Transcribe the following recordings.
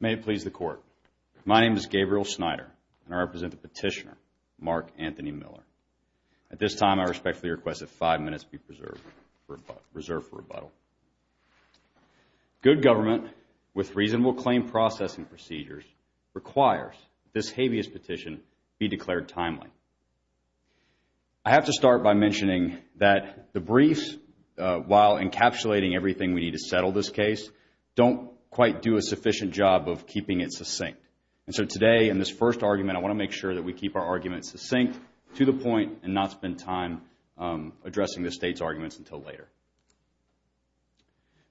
May it please the Court. My name is Gabriel Snyder, and I represent the petitioner, Mark Anthony Miller. At this time, I respectfully request that five minutes be reserved for rebuttal. Good government, with reasonable claim processing procedures, requires that this habeas petition be declared timely. I have to start by mentioning that the briefs, while encapsulating everything we need to settle this case, don't quite do a sufficient job of keeping it succinct. And so today, in this first argument, I want to make sure that we keep our arguments succinct to the point and not spend time addressing the State's arguments until later.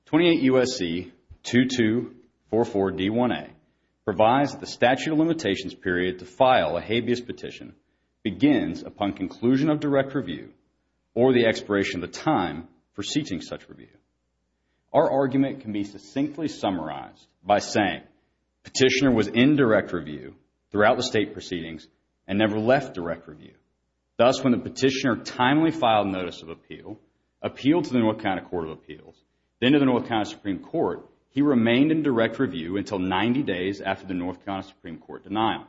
28 U.S.C. 2244-D1A provides that the statute of limitations period to file a habeas petition begins upon conclusion of direct review or the expiration of the time preceding such review. Our argument can be succinctly summarized by saying petitioner was in direct review throughout the State proceedings and never left direct review. Thus, when the petitioner timely filed notice of appeal, appealed to the North Carolina Court of Appeals, then to the North Carolina Supreme Court, he remained in direct review until 90 days after the North Carolina Supreme Court denial.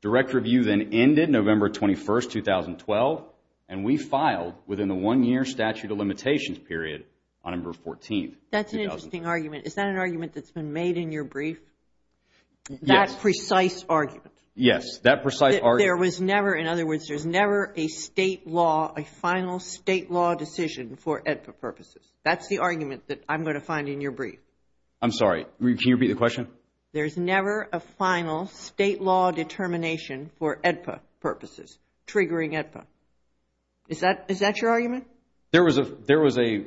Direct review then ended November 21st, 2012, and we filed within the one-year statute of limitations period on November 14th. That's an interesting argument. Is that an argument that's been made in your brief? Yes. That precise argument. Yes, that precise argument. There was never, in other words, there's never a State law, a final State law decision for EDPA purposes. That's the argument that I'm going to find in your brief. I'm sorry, can you repeat the question? There's never a final State law determination for EDPA purposes, triggering EDPA. Is that your argument? There was a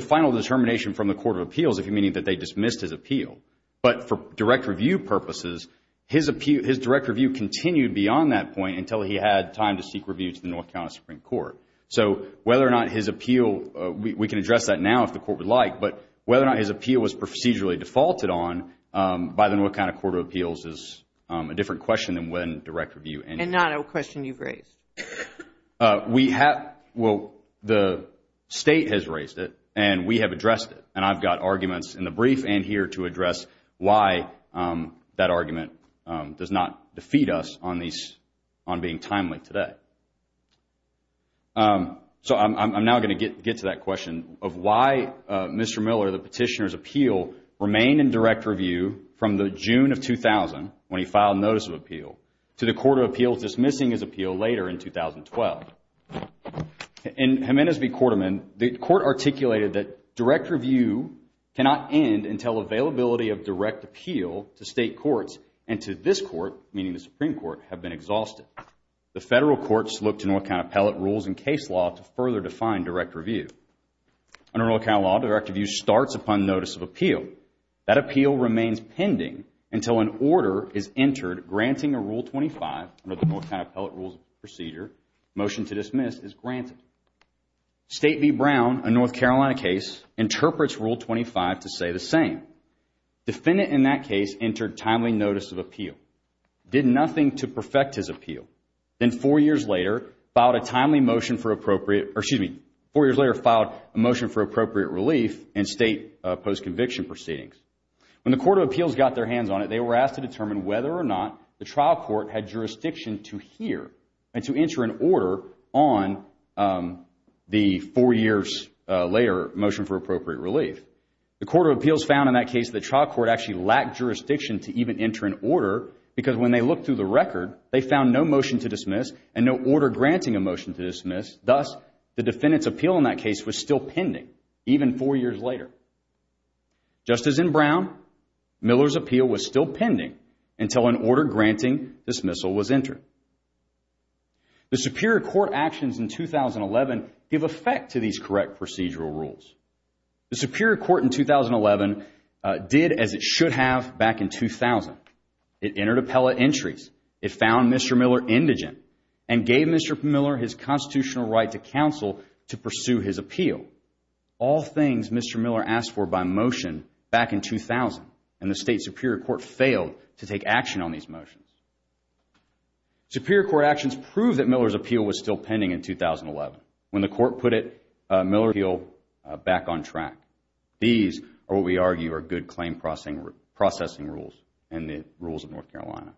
final determination from the Court of Appeals, meaning that they dismissed his appeal. But for direct review purposes, his direct review continued beyond that point until he had time to seek review to the North Carolina Supreme Court. So whether or not his appeal, we can address that now if the Court would like, but whether or not his appeal was procedurally defaulted on by the North Carolina Court of Appeals is a different question than when direct review ended. And not a question you've raised. We have, well, the State has raised it, and we have addressed it, and I've got arguments in the brief and here to address why that argument does not defeat us on being timely today. So I'm now going to get to that question of why Mr. Miller, the petitioner's appeal, remained in direct review from the June of 2000, when he filed notice of appeal, to the Court of Appeals dismissing his appeal later in 2012. In Jimenez v. Quarterman, the Court articulated that direct review cannot end until availability of direct appeal to State courts and to this court, meaning the Supreme Court, have been exhausted. The Federal courts look to North Carolina appellate rules and case law to further define direct review. Under North Carolina law, direct review starts upon notice of appeal. That appeal remains pending until an order is entered granting a Rule 25, under the North Carolina appellate rules procedure, motion to dismiss is granted. State v. Brown, a North Carolina case, interprets Rule 25 to say the same. Did nothing to perfect his appeal. Then four years later, filed a motion for appropriate relief in State post-conviction proceedings. When the Court of Appeals got their hands on it, they were asked to determine whether or not the trial court had jurisdiction to hear and to enter an order on the four years later motion for appropriate relief. The Court of Appeals found in that case the trial court actually lacked jurisdiction to even enter an order because when they looked through the record, they found no motion to dismiss and no order granting a motion to dismiss. Thus, the defendant's appeal in that case was still pending, even four years later. Just as in Brown, Miller's appeal was still pending until an order granting dismissal was entered. The Superior Court actions in 2011 give effect to these correct procedural rules. The Superior Court in 2011 did as it should have back in 2000. It entered appellate entries. It found Mr. Miller indigent and gave Mr. Miller his constitutional right to counsel to pursue his appeal. All things Mr. Miller asked for by motion back in 2000, and the State Superior Court failed to take action on these motions. Superior Court actions prove that Miller's appeal was still pending in 2011. When the Court put Miller's appeal back on track, these are what we argue are good claim processing rules and the rules of North Carolina.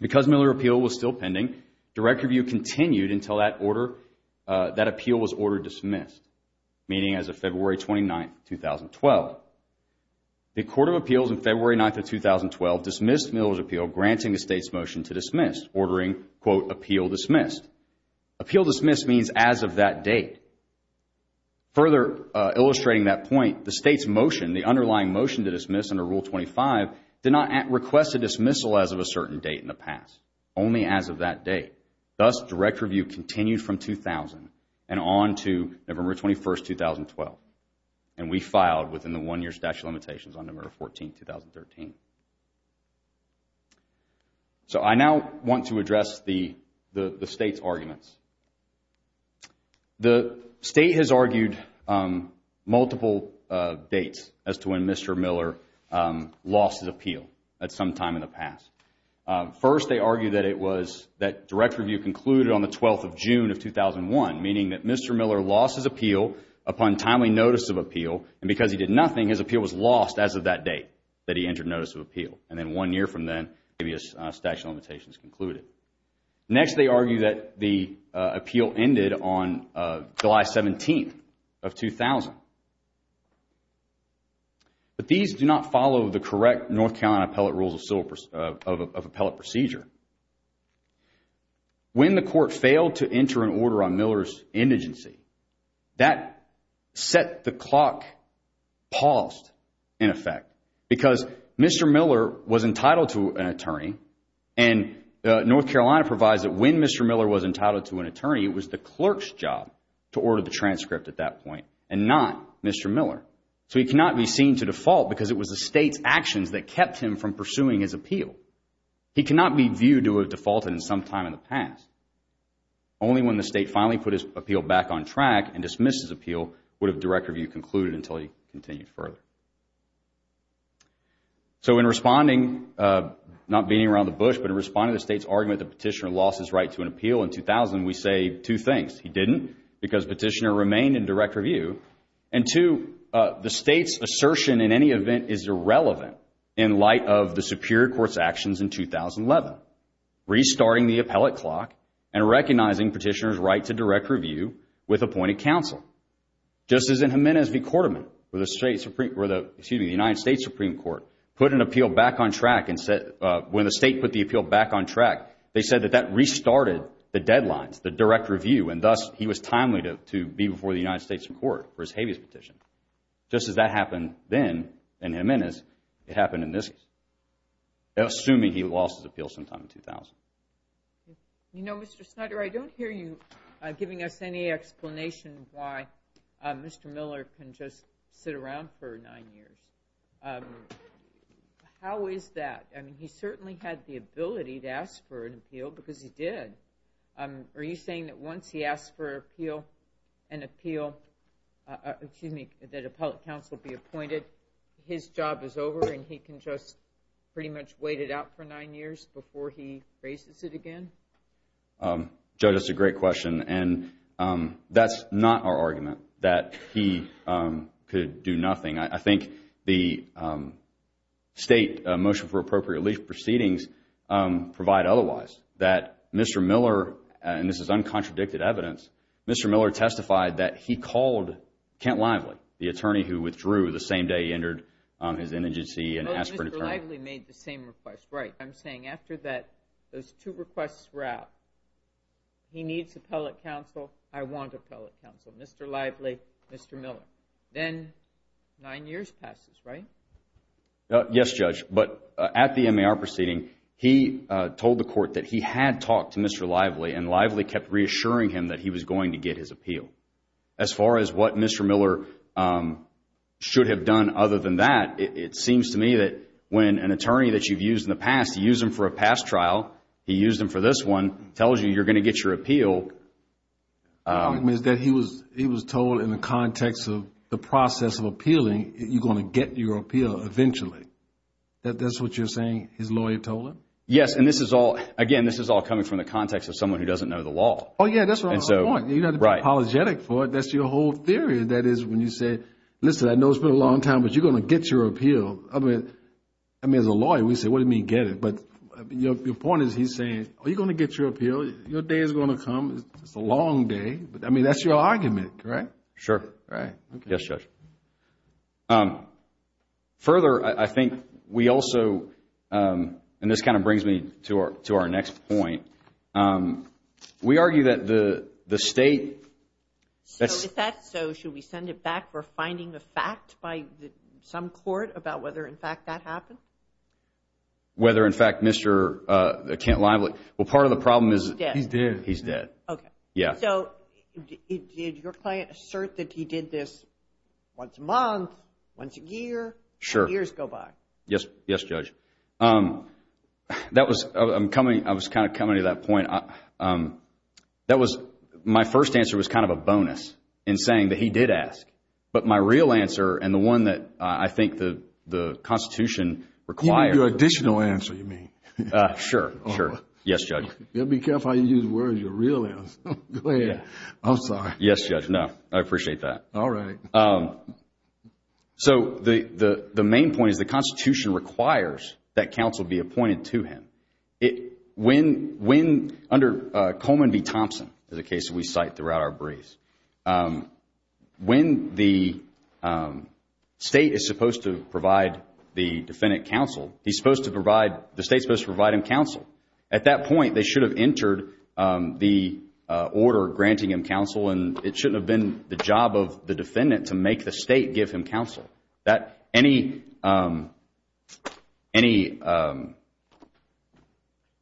Because Miller's appeal was still pending, direct review continued until that appeal was ordered dismissed, meaning as of February 29, 2012. The Court of Appeals on February 9, 2012 dismissed Miller's appeal granting the State's motion to dismiss, ordering, quote, appeal dismissed. Appeal dismissed means as of that date. Further illustrating that point, the State's motion, the underlying motion to dismiss under Rule 25, did not request a dismissal as of a certain date in the past, only as of that date. Thus, direct review continued from 2000 and on to November 21, 2012, and we filed within the one-year statute of limitations on November 14, 2013. So I now want to address the State's arguments. The State has argued multiple dates as to when Mr. Miller lost his appeal at some time in the past. First, they argued that direct review concluded on the 12th of June of 2001, meaning that Mr. Miller lost his appeal upon timely notice of appeal, and because he did nothing, his appeal was lost as of that date that he entered notice of appeal. And then one year from then, the previous statute of limitations concluded. Next, they argued that the appeal ended on July 17 of 2000. But these do not follow the correct North Carolina appellate rules of appellate procedure. When the court failed to enter an order on Miller's indigency, that set the clock paused in effect because Mr. Miller was entitled to an attorney, and North Carolina provides that when Mr. Miller was entitled to an attorney, it was the clerk's job to order the transcript at that point and not Mr. Miller. So he cannot be seen to default because it was the State's actions that kept him from pursuing his appeal. He cannot be viewed to have defaulted in some time in the past. Only when the State finally put his appeal back on track and dismissed his appeal would a direct review concluded until he continued further. So in responding, not beating around the bush, but in responding to the State's argument that Petitioner lost his right to an appeal in 2000, we say two things. He didn't because Petitioner remained in direct review. And two, the State's assertion in any event is irrelevant in light of the Superior Court's actions in 2011, restarting the appellate clock and recognizing Petitioner's right to direct review with appointed counsel. Just as in Jimenez v. Cordeman, where the United States Supreme Court put an appeal back on track and when the State put the appeal back on track, they said that that restarted the deadlines, the direct review, and thus he was timely to be before the United States Supreme Court for his habeas petition. Just as that happened then in Jimenez, it happened in this case, assuming he lost his appeal sometime in 2000. You know, Mr. Snyder, I don't hear you giving us any explanation of why Mr. Miller can just sit around for nine years. How is that? I mean, he certainly had the ability to ask for an appeal because he did. Are you saying that once he asks for an appeal, an appeal, excuse me, that appellate counsel be appointed, his job is over and he can just pretty much wait it out for nine years before he raises it again? Joe, that's a great question. And that's not our argument that he could do nothing. I think the State Motion for Appropriate Relief Proceedings provide otherwise, that Mr. Miller, and this is uncontradicted evidence, Mr. Miller testified that he called Kent Lively, the attorney who withdrew the same day he entered his integency and asked for an attorney. No, Mr. Lively made the same request. Right. I'm saying after those two requests were out, he needs appellate counsel, I want appellate counsel, Mr. Lively, Mr. Miller. Then nine years passes, right? Yes, Judge. But at the MAR proceeding, he told the court that he had talked to Mr. Lively and Lively kept reassuring him that he was going to get his appeal. As far as what Mr. Miller should have done other than that, it seems to me that when an attorney that you've used in the past, you used him for a past trial, he used him for this one, tells you you're going to get your appeal. He was told in the context of the process of appealing, you're going to get your appeal eventually. That's what you're saying his lawyer told him? Yes. And this is all, again, this is all coming from the context of someone who doesn't know the law. Oh, yeah, that's right. You don't have to be apologetic for it. That's your whole theory. That is when you say, listen, I know it's been a long time, but you're going to get your appeal. I mean, as a lawyer, we say, what do you mean get it? But your point is he's saying, are you going to get your appeal? Your day is going to come. It's a long day. I mean, that's your argument, correct? Sure. Right. Yes, Judge. Further, I think we also, and this kind of brings me to our next point, we argue that the state. So if that's so, should we send it back for finding a fact by some court about whether, in fact, that happened? Whether, in fact, Mr. Kent Lively. Well, part of the problem is. He's dead. He's dead. Okay. Yeah. So did your client assert that he did this once a month, once a year, and years go by? Sure. Yes, Judge. That was, I'm coming, I was kind of coming to that point. That was, my first answer was kind of a bonus in saying that he did ask. But my real answer, and the one that I think the Constitution requires. Your additional answer, you mean. Sure. Sure. Yes, Judge. You have to be careful how you use words, your real answer. Go ahead. I'm sorry. Yes, Judge. No. I appreciate that. All right. So the main point is the Constitution requires that counsel be appointed to him. When, under Coleman v. Thompson, is a case that we cite throughout our briefs. When the state is supposed to provide the defendant counsel, he's supposed to provide, the state's supposed to provide him counsel. At that point, they should have entered the order granting him counsel, and it shouldn't have been the job of the defendant to make the state give him counsel. That, any, any default.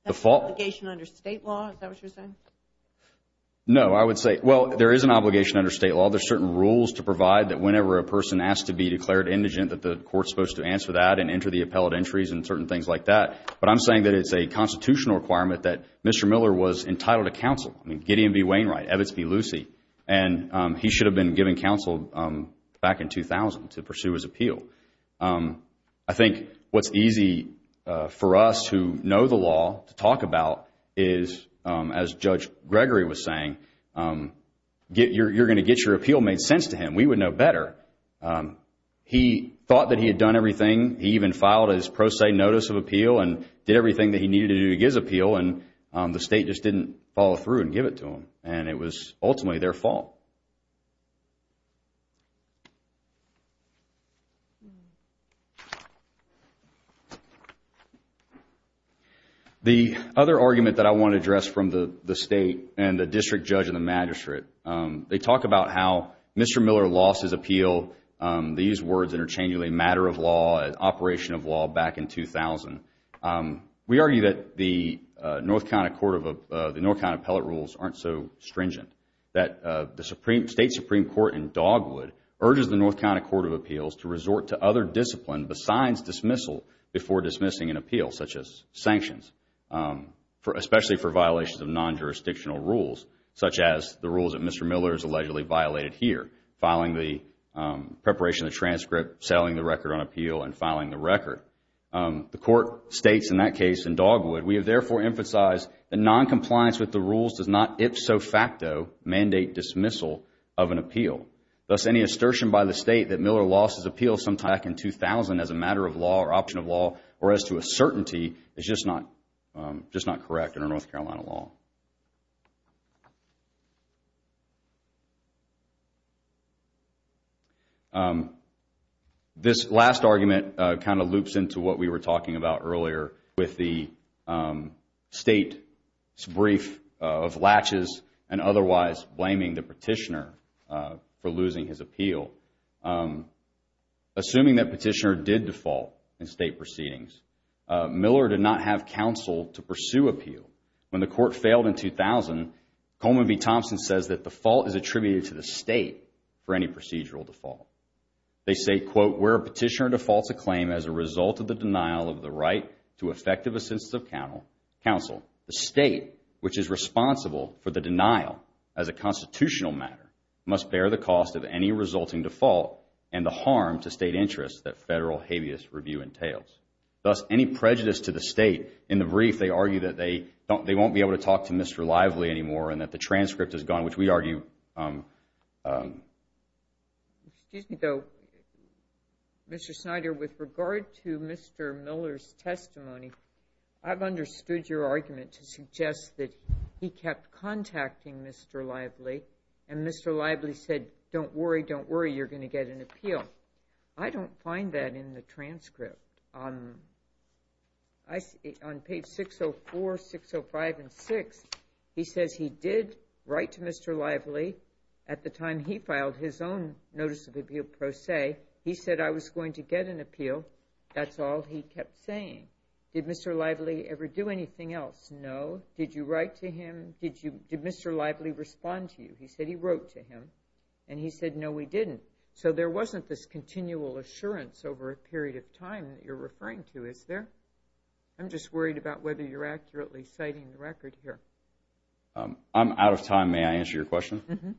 That's an obligation under state law, is that what you're saying? No, I would say, well, there is an obligation under state law. There's certain rules to provide that whenever a person asks to be declared indigent, that the court's supposed to answer that and enter the appellate entries and certain things like that. But I'm saying that it's a constitutional requirement that Mr. Miller was entitled to counsel. I mean, Gideon v. Wainwright, Evitz v. Lucey, and he should have been given counsel back in 2000 to pursue his appeal. I think what's easy for us to know the law, to talk about, is, as Judge Gregory was saying, you're going to get your appeal made sense to him. We would know better. He thought that he had done everything. He even filed his pro se notice of appeal and did everything that he needed to do to get his appeal, and the state just didn't follow through and give it to him. And it was ultimately their fault. The other argument that I want to address from the state and the district judge and the magistrate, they talk about how Mr. Miller lost his appeal. They use words interchangeably, matter of law, operation of law, back in 2000. We argue that the North Carolina Court of Appellate Rules aren't so stringent, that the state Supreme Court in Dogwood urges the North Carolina Court of Appeals to resort to other discipline besides dismissal before dismissing an appeal, such as sanctions, especially for violations of non-jurisdictional rules, such as the rules that Mr. Miller has allegedly violated here, filing the preparation of the transcript, selling the record on appeal, and filing the record. The court states in that case in Dogwood, we have therefore emphasized that non-compliance with the rules does not ipso facto mandate dismissal of an appeal. Thus, any assertion by the state that Miller lost his appeal sometime back in 2000 as a matter of law or option of law or as to a certainty is just not correct under North Carolina law. This last argument kind of loops into what we were talking about earlier with the state's brief of latches and otherwise blaming the petitioner for losing his appeal. Assuming that petitioner did default in state proceedings, Miller did not have counsel to pursue appeal. When the court failed in 2000, Coleman v. Thompson says that the fault is attributed to the state for any procedural default. They say, quote, where a petitioner defaults a claim as a result of the denial of the right to effective assistance of counsel, the state, which is responsible for the denial as a constitutional matter, must bear the cost of any resulting default and the harm to state interests that federal habeas review entails. Thus, any prejudice to the state in the brief, they argue that they won't be able to talk to Mr. Lively anymore and that the transcript is gone, which we argue. Excuse me, though. Mr. Snyder, with regard to Mr. Miller's testimony, I've understood your argument to suggest that he kept contacting Mr. Lively and Mr. Lively said, don't worry, don't worry, you're going to get an appeal. I don't find that in the transcript. On page 604, 605, and 606, he says he did write to Mr. Lively at the time he filed his own notice of appeal pro se. He said, I was going to get an appeal. That's all he kept saying. Did Mr. Lively ever do anything else? No. Did you write to him? Did Mr. Lively respond to you? He said he wrote to him. And he said, no, he didn't. So there wasn't this continual assurance over a period of time that you're referring to, is there? I'm just worried about whether you're accurately citing the record here. I'm out of time. May I answer your question?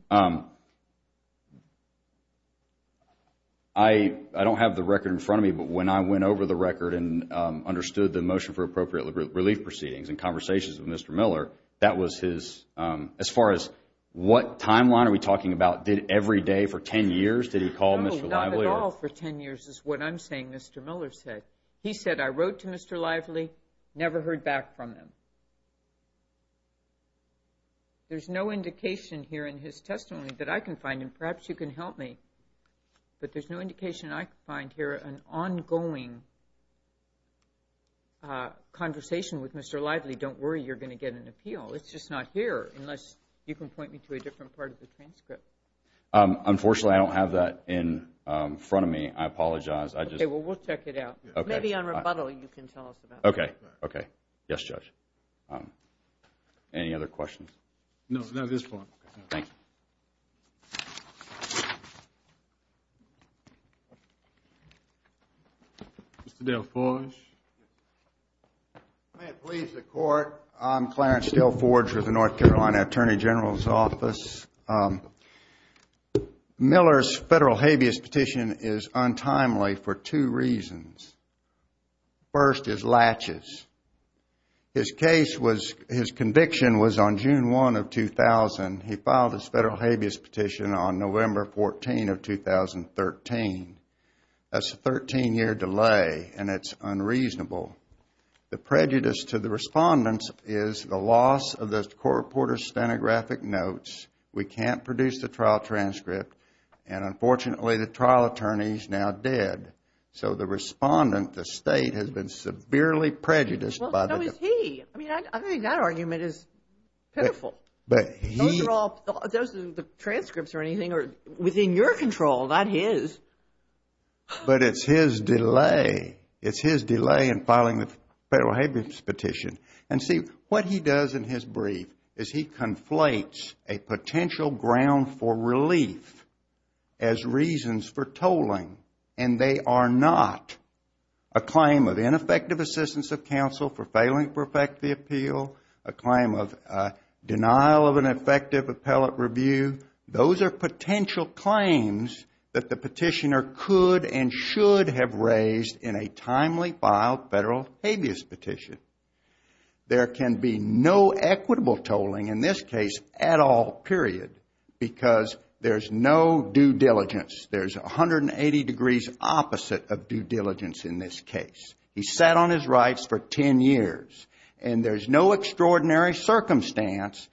I don't have the record in front of me, but when I went over the record and understood the motion for appropriate relief proceedings and conversations with Mr. Miller, as far as what timeline are we talking about, did every day for 10 years, did he call Mr. Lively? Not at all for 10 years is what I'm saying Mr. Miller said. He said, I wrote to Mr. Lively, never heard back from him. There's no indication here in his testimony that I can find him. Perhaps you can help me, but there's no indication I can find here an ongoing conversation with Mr. Lively. Don't worry, you're going to get an appeal. It's just not here unless you can point me to a different part of the transcript. Unfortunately, I don't have that in front of me. I apologize. Okay, well we'll check it out. Maybe on rebuttal you can tell us about that. Okay. Okay. Yes, Judge. Any other questions? No, not at this point. Thank you. Mr. DelForge. May it please the court. I'm Clarence DelForge with the North Carolina Attorney General's Office. Miller's federal habeas petition is untimely for two reasons. First is latches. His case was, his conviction was on June 1 of 2000. He filed his federal habeas petition on November 14 of 2013. That's a 13-year delay, and it's unreasonable. The prejudice to the respondents is the loss of the court reporter's stenographic notes. We can't produce the trial transcript, and unfortunately the trial attorneys now did. So the respondent, the State, has been severely prejudiced by the defendant. Well, so has he. I mean, I think that argument is pitiful. Those are the transcripts or anything within your control, not his. But it's his delay. It's his delay in filing the federal habeas petition. And see, what he does in his brief is he conflates a potential ground for relief as reasons for tolling, and they are not a claim of ineffective assistance of counsel for failing to perfect the appeal, a claim of denial of an effective appellate review. Those are potential claims that the petitioner could and should have raised in a timely filed federal habeas petition. There can be no equitable tolling in this case at all, period, because there's no due diligence. There's 180 degrees opposite of due diligence in this case. He sat on his rights for 10 years, and there's no extraordinary circumstance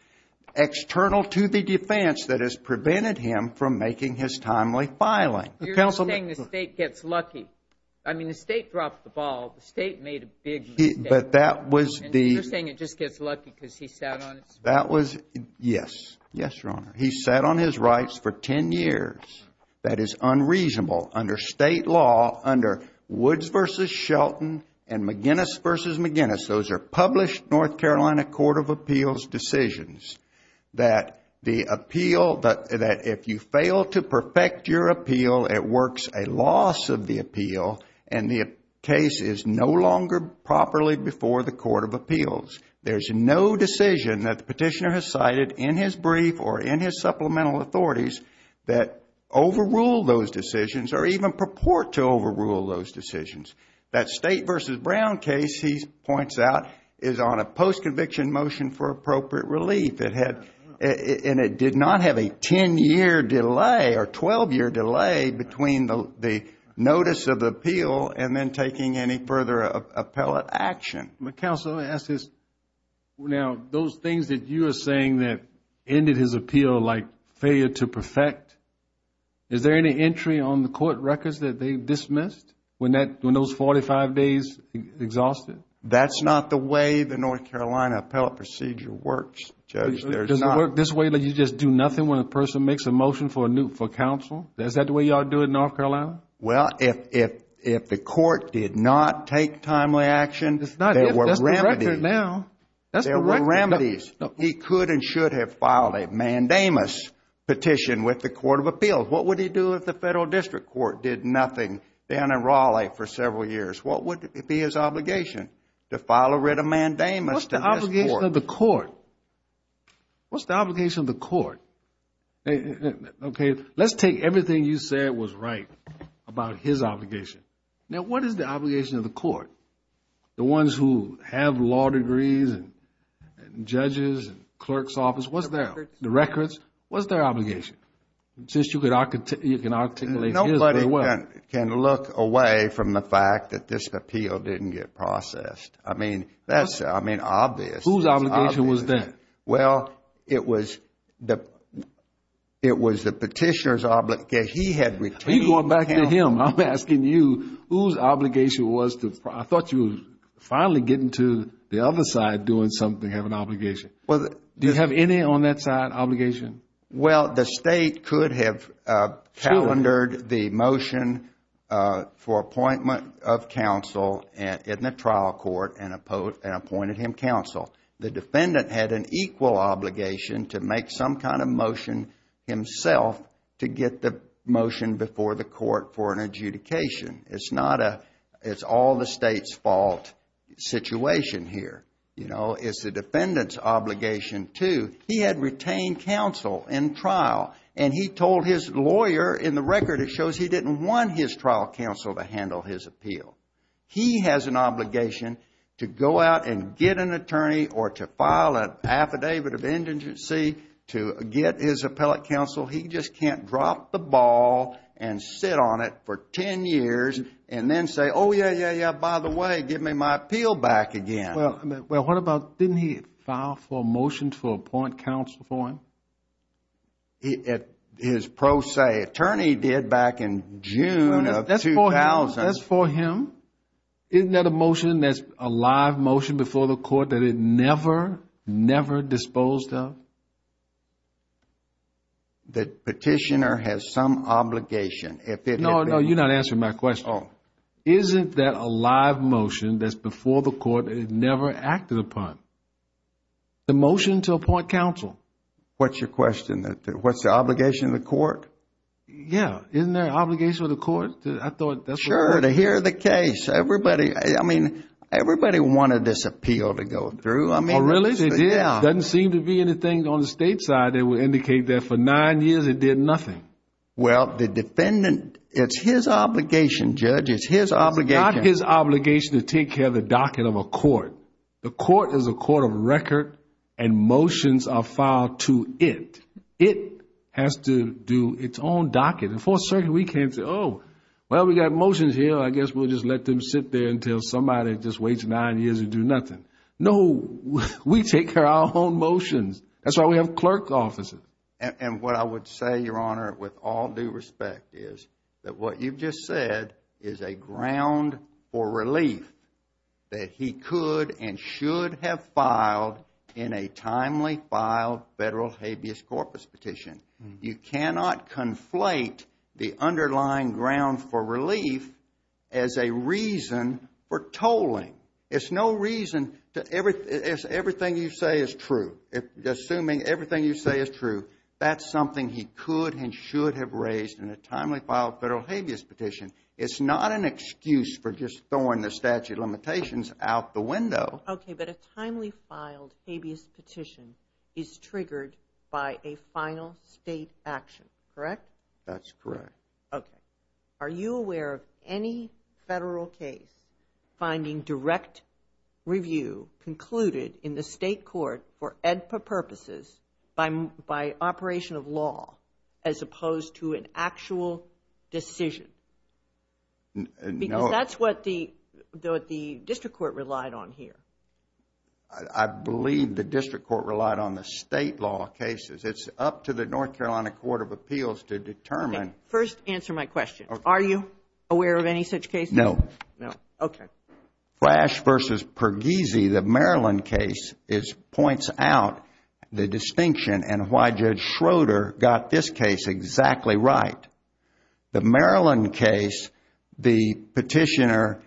external to the defense that has prevented him from making his timely filing. You're saying the State gets lucky. I mean, the State dropped the ball. The State made a big mistake. But that was the – And you're saying it just gets lucky because he sat on his rights. That was – yes. Yes, Your Honor. He sat on his rights for 10 years. That is unreasonable. Under State law, under Woods v. Shelton and McGinnis v. McGinnis, those are published North Carolina Court of Appeals decisions, that the appeal – that if you fail to perfect your appeal, it works a loss of the appeal, and the case is no longer properly before the Court of Appeals. There's no decision that the petitioner has cited in his brief or in his supplemental authorities that overrule those decisions or even purport to overrule those decisions. That State v. Brown case, he points out, is on a post-conviction motion for appropriate relief. It had – and it did not have a 10-year delay or 12-year delay between the notice of the appeal and then taking any further appellate action. Counsel, let me ask this. Now, those things that you are saying that ended his appeal like failure to perfect, is there any entry on the court records that they dismissed when that – when those 45 days exhausted? That's not the way the North Carolina appellate procedure works, Judge. Does it work this way that you just do nothing when a person makes a motion for counsel? Well, if the court did not take timely action, there were remedies. That's the record now. There were remedies. He could and should have filed a mandamus petition with the Court of Appeals. What would he do if the Federal District Court did nothing down in Raleigh for several years? What would be his obligation? To file a writ of mandamus to this court? What's the obligation of the court? Okay. Let's take everything you said was right about his obligation. Now, what is the obligation of the court? The ones who have law degrees and judges and clerk's office, what's their – the records, what's their obligation? Since you can articulate his very well. Nobody can look away from the fact that this appeal didn't get processed. I mean, that's obvious. Whose obligation was that? Well, it was the petitioner's obligation. He had retained counsel. You're going back to him. I'm asking you whose obligation was the – I thought you were finally getting to the other side doing something, having an obligation. Do you have any on that side, obligation? Well, the State could have calendared the motion for appointment of counsel in the trial court and appointed him counsel. The defendant had an equal obligation to make some kind of motion himself to get the motion before the court for an adjudication. It's not a – it's all the State's fault situation here. You know, it's the defendant's obligation too. He had retained counsel in trial, and he told his lawyer in the record it shows he didn't want his trial counsel to handle his appeal. He has an obligation to go out and get an attorney or to file an affidavit of indigency to get his appellate counsel. He just can't drop the ball and sit on it for 10 years and then say, oh, yeah, yeah, yeah, by the way, give me my appeal back again. Well, what about – didn't he file for a motion to appoint counsel for him? His pro se attorney did back in June of 2000. That's for him. Isn't that a motion that's a live motion before the court that it never, never disposed of? The petitioner has some obligation. No, no, you're not answering my question. Oh. Isn't that a live motion that's before the court that it never acted upon? The motion to appoint counsel. What's your question? What's the obligation of the court? Yeah. Isn't there an obligation of the court? Sure, to hear the case. Everybody, I mean, everybody wanted this appeal to go through. Oh, really? Yeah. It doesn't seem to be anything on the State side that would indicate that for nine years it did nothing. Well, the defendant, it's his obligation, Judge. It's his obligation. It's not his obligation to take care of the docket of a court. The court is a court of record and motions are filed to it. It has to do its own docket. The Fourth Circuit, we can't say, oh, well, we got motions here. I guess we'll just let them sit there until somebody just waits nine years and do nothing. No, we take care of our own motions. That's why we have clerk offices. And what I would say, Your Honor, with all due respect, is that what you've just said is a ground for relief that he could and should have filed in a timely filed federal habeas corpus petition. You cannot conflate the underlying ground for relief as a reason for tolling. It's no reason to everything you say is true. Assuming everything you say is true, that's something he could and should have raised in a timely filed federal habeas petition. It's not an excuse for just throwing the statute of limitations out the window. Okay, but a timely filed habeas petition is triggered by a final state action, correct? That's correct. Okay. Are you aware of any federal case finding direct review concluded in the state court for AEDPA purposes by operation of law as opposed to an actual decision? No. Because that's what the district court relied on here. I believe the district court relied on the state law cases. It's up to the North Carolina Court of Appeals to determine. Okay. First, answer my question. Are you aware of any such case? No. No. Okay. Flash v. Perghese, the Maryland case, points out the distinction and why Judge Schroeder got this case exactly right. The Maryland case, the petitioner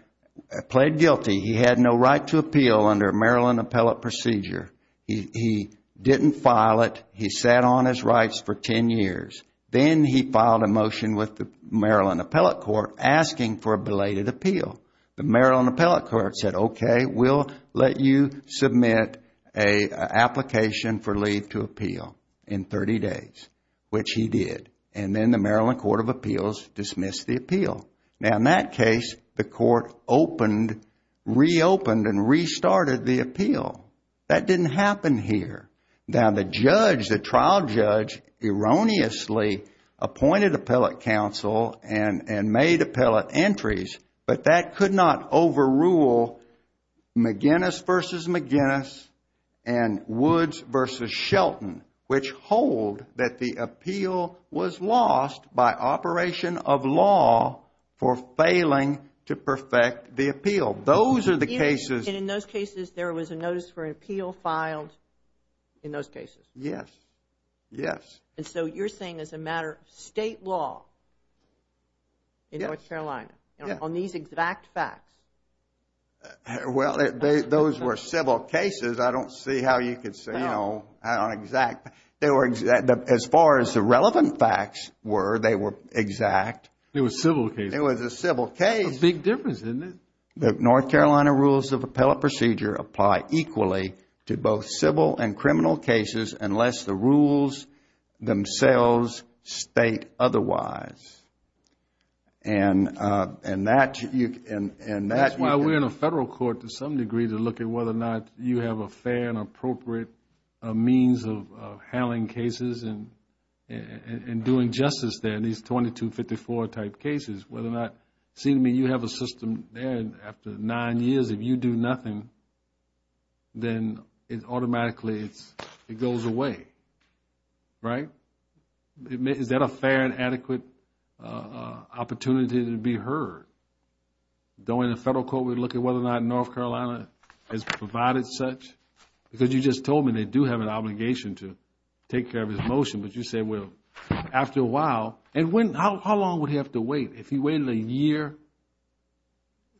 pled guilty. He had no right to appeal under a Maryland appellate procedure. He didn't file it. He sat on his rights for 10 years. Then he filed a motion with the Maryland appellate court asking for a belated appeal. The Maryland appellate court said, okay, we'll let you submit an application for leave to appeal in 30 days, which he did. And then the Maryland Court of Appeals dismissed the appeal. Now, in that case, the court reopened and restarted the appeal. That didn't happen here. Now, the judge, the trial judge, erroneously appointed appellate counsel and made appellate entries, but that could not overrule McGinnis v. McGinnis and Woods v. Shelton, which hold that the appeal was lost by operation of law for failing to perfect the appeal. Those are the cases. And in those cases, there was a notice for an appeal filed in those cases? Yes, yes. And so you're saying as a matter of state law in North Carolina on these exact facts? Well, those were civil cases. I don't see how you could say, you know, on exact. As far as the relevant facts were, they were exact. It was a civil case. It was a civil case. Big difference, isn't it? The North Carolina rules of appellate procedure apply equally to both civil and criminal cases unless the rules themselves state otherwise. And that you can... That's why we're in a federal court to some degree to look at whether or not you have a fair and appropriate means of handling cases and doing justice there in these 2254-type cases, whether or not... See, I mean, you have a system there, and after nine years, if you do nothing, then automatically it goes away, right? Is that a fair and adequate opportunity to be heard? During a federal court, we look at whether or not North Carolina has provided such? Because you just told me they do have an obligation to take care of this motion, but you say, well, after a while... And how long would he have to wait? If he waited a year,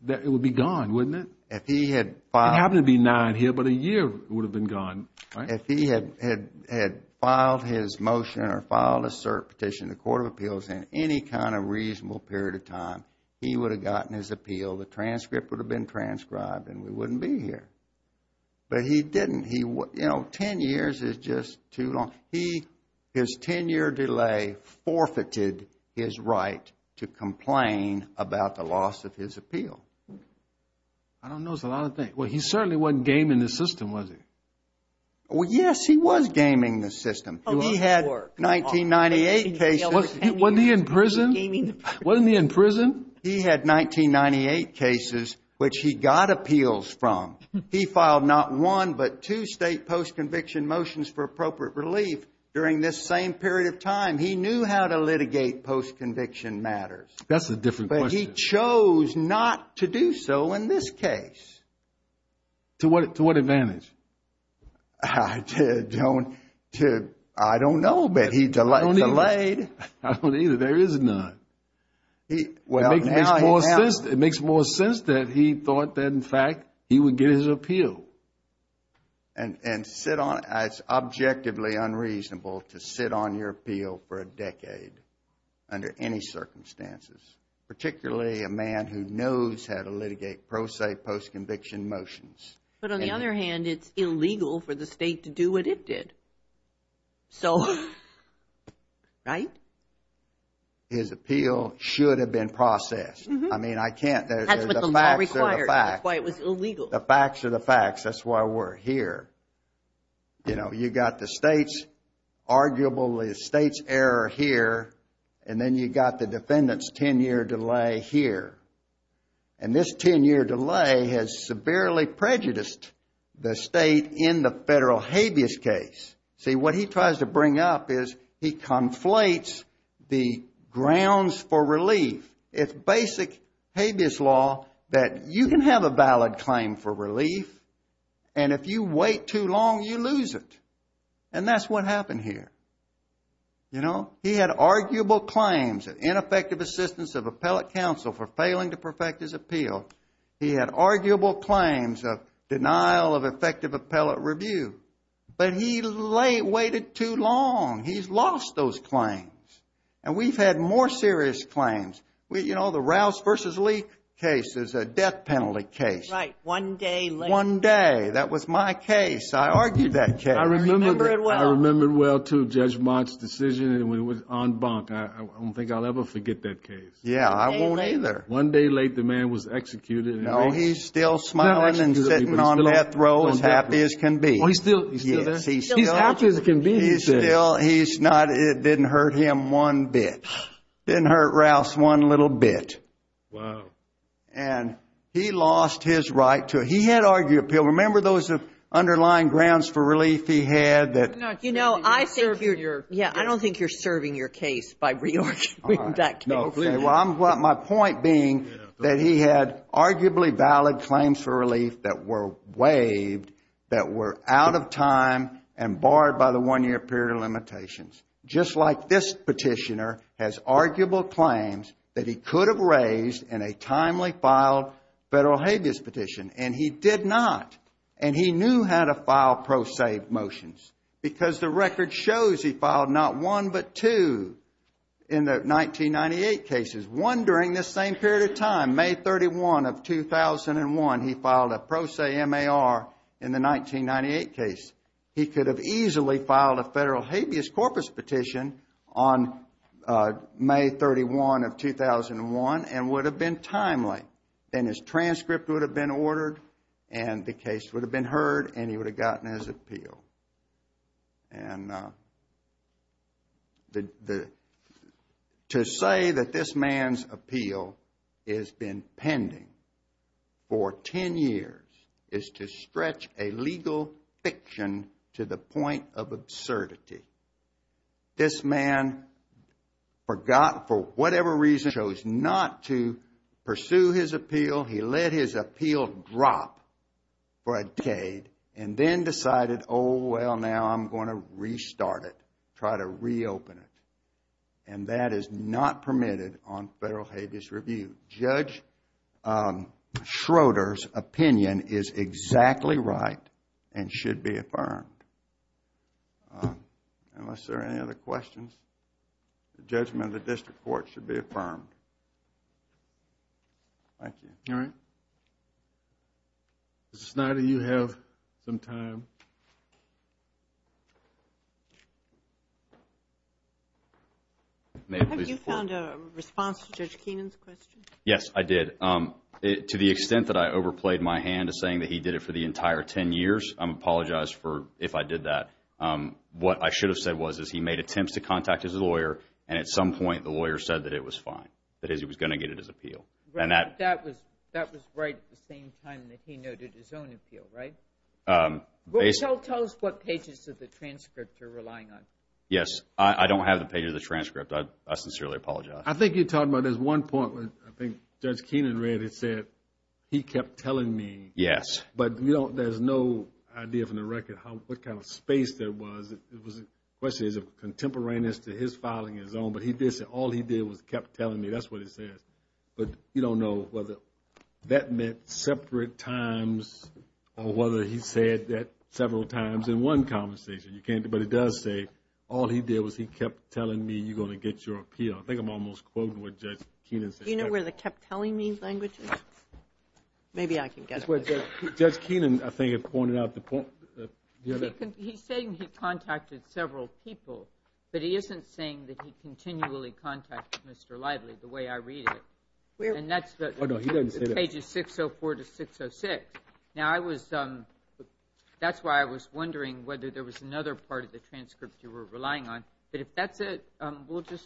it would be gone, wouldn't it? If he had filed... It happened to be nine here, but a year would have been gone, right? If he had filed his motion or filed a cert petition in the Court of Appeals in any kind of reasonable period of time, he would have gotten his appeal, the transcript would have been transcribed, and we wouldn't be here. But he didn't. Ten years is just too long. His ten-year delay forfeited his right to complain about the loss of his appeal. I don't know. It's a lot of things. Well, he certainly wasn't gaming the system, was he? Yes, he was gaming the system. He had 1998 cases. Wasn't he in prison? He had 1998 cases, which he got appeals from. He filed not one but two state post-conviction motions for appropriate relief during this same period of time. He knew how to litigate post-conviction matters. That's a different question. But he chose not to do so in this case. To what advantage? I don't know, but he delayed. I don't either. There is none. It makes more sense that he thought that, in fact, he would get his appeal. And sit on it. It's objectively unreasonable to sit on your appeal for a decade under any circumstances, particularly a man who knows how to litigate pro se post-conviction motions. But on the other hand, it's illegal for the state to do what it did. So, right? His appeal should have been processed. I mean, I can't. That's why it was illegal. The facts are the facts. That's why we're here. You know, you've got the state's arguable error here, and then you've got the defendant's 10-year delay here. And this 10-year delay has severely prejudiced the state in the federal habeas case. See, what he tries to bring up is he conflates the grounds for relief. It's basic habeas law that you can have a valid claim for relief, and if you wait too long, you lose it. And that's what happened here. You know, he had arguable claims of ineffective assistance of appellate counsel for failing to perfect his appeal. He had arguable claims of denial of effective appellate review. But he waited too long. He's lost those claims. And we've had more serious claims. You know, the Rouse v. Leak case is a death penalty case. Right. One day late. One day. That was my case. I argued that case. I remember it well. I remember it well, too, Judge Mott's decision. And when it was en banc, I don't think I'll ever forget that case. Yeah, I won't either. One day late, the man was executed. No, he's still smiling and sitting on death row as happy as can be. Oh, he's still there? Yes, he's still. He's happy as can be. He's still. He's not. It didn't hurt him one bit. It didn't hurt Rouse one little bit. Wow. And he lost his right to. He had argued appeal. Remember those underlying grounds for relief he had that. You know, I think you're. Yeah, I don't think you're serving your case by re-arguing that case. My point being that he had arguably valid claims for relief that were waived, that were out of time and barred by the one-year period of limitations, just like this petitioner has arguable claims that he could have raised in a timely filed federal habeas petition. And he did not. And he knew how to file pro se motions because the record shows he filed not one but two in the 1998 cases. One during this same period of time, May 31 of 2001. He filed a pro se MAR in the 1998 case. He could have easily filed a federal habeas corpus petition on May 31 of 2001 and would have been timely. And his transcript would have been ordered and the case would have been heard and he would have gotten his appeal. And to say that this man's appeal has been pending for ten years is to stretch a legal fiction to the point of absurdity. This man forgot, for whatever reason, chose not to pursue his appeal. He let his appeal drop for a decade and then decided, oh, well, now I'm going to restart it, try to reopen it. And that is not permitted on federal habeas review. Judge Schroeder's opinion is exactly right and should be affirmed. Unless there are any other questions, the judgment of the district court should be affirmed. Thank you. All right. Mr. Snyder, you have some time. Have you found a response to Judge Keenan's question? Yes, I did. To the extent that I overplayed my hand to saying that he did it for the entire ten years, I apologize if I did that. What I should have said was he made attempts to contact his lawyer and at some point the lawyer said that it was fine, that he was going to get it as appeal. That was right at the same time that he noted his own appeal, right? Tell us what pages of the transcript you're relying on. Yes. I don't have the pages of the transcript. I sincerely apologize. I think you're talking about there's one point where I think Judge Keenan read and said he kept telling me. Yes. But there's no idea from the record what kind of space there was. The question is of contemporaneous to his filing his own, but he did say all he did was kept telling me. That's what it says. But you don't know whether that meant separate times or whether he said that several times in one conversation. But it does say all he did was he kept telling me you're going to get your appeal. I think I'm almost quoting what Judge Keenan said. Do you know where the kept telling me language is? Maybe I can get it. Judge Keenan, I think, pointed out the point. He's saying he contacted several people, but he isn't saying that he continually contacted Mr. Lively the way I read it. Oh, no, he doesn't say that. It's pages 604 to 606. Now, that's why I was wondering whether there was another part of the transcript you were relying on. But if that's it, we'll just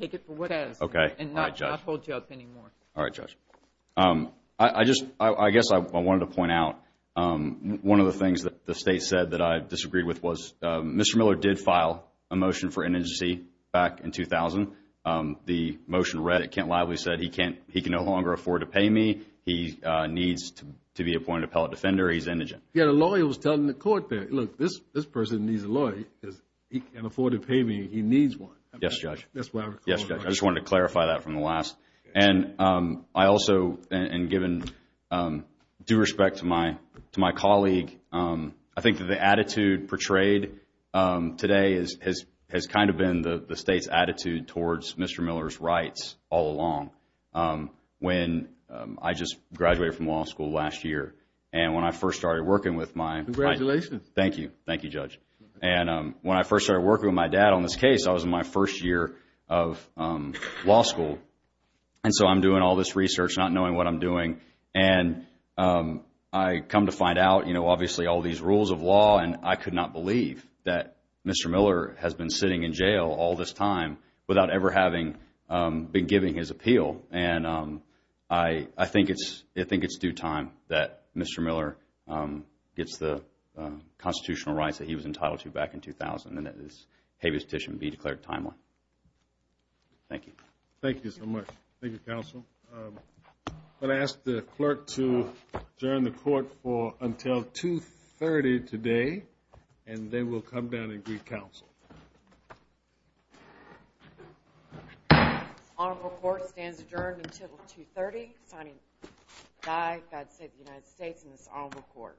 take it for what it is and not hold you up anymore. All right, Judge. I guess I wanted to point out one of the things that the State said that I disagreed with was Mr. Miller did file a motion for indigency back in 2000. The motion read that Kent Lively said he can no longer afford to pay me. He needs to be appointed appellate defender. He's indigent. Yeah, the lawyer was telling the court there, look this person needs a lawyer because he can't afford to pay me. He needs one. Yes, Judge. I just wanted to clarify that from the last. I also am giving due respect to my colleague. I think the attitude portrayed today has kind of been the State's attitude towards Mr. Miller's rights all along. When I just graduated from law school last year and when I first started working with my. Congratulations. Thank you. Thank you, Judge. When I first started working with my dad on this case, I was in my first year of law school, and so I'm doing all this research not knowing what I'm doing, and I come to find out, you know, obviously all these rules of law and I could not believe that Mr. Miller has been sitting in jail all this time without ever having been giving his appeal, and I think it's due time that Mr. Miller gets the constitutional rights that he was entitled to back in 2000 and that this habeas petition be declared timely. Thank you. Thank you so much. Thank you, counsel. I'm going to ask the clerk to adjourn the court until 2.30 today, and then we'll come down and greet counsel. Honorable court stands adjourned until 2.30, God save the United States and this honorable court.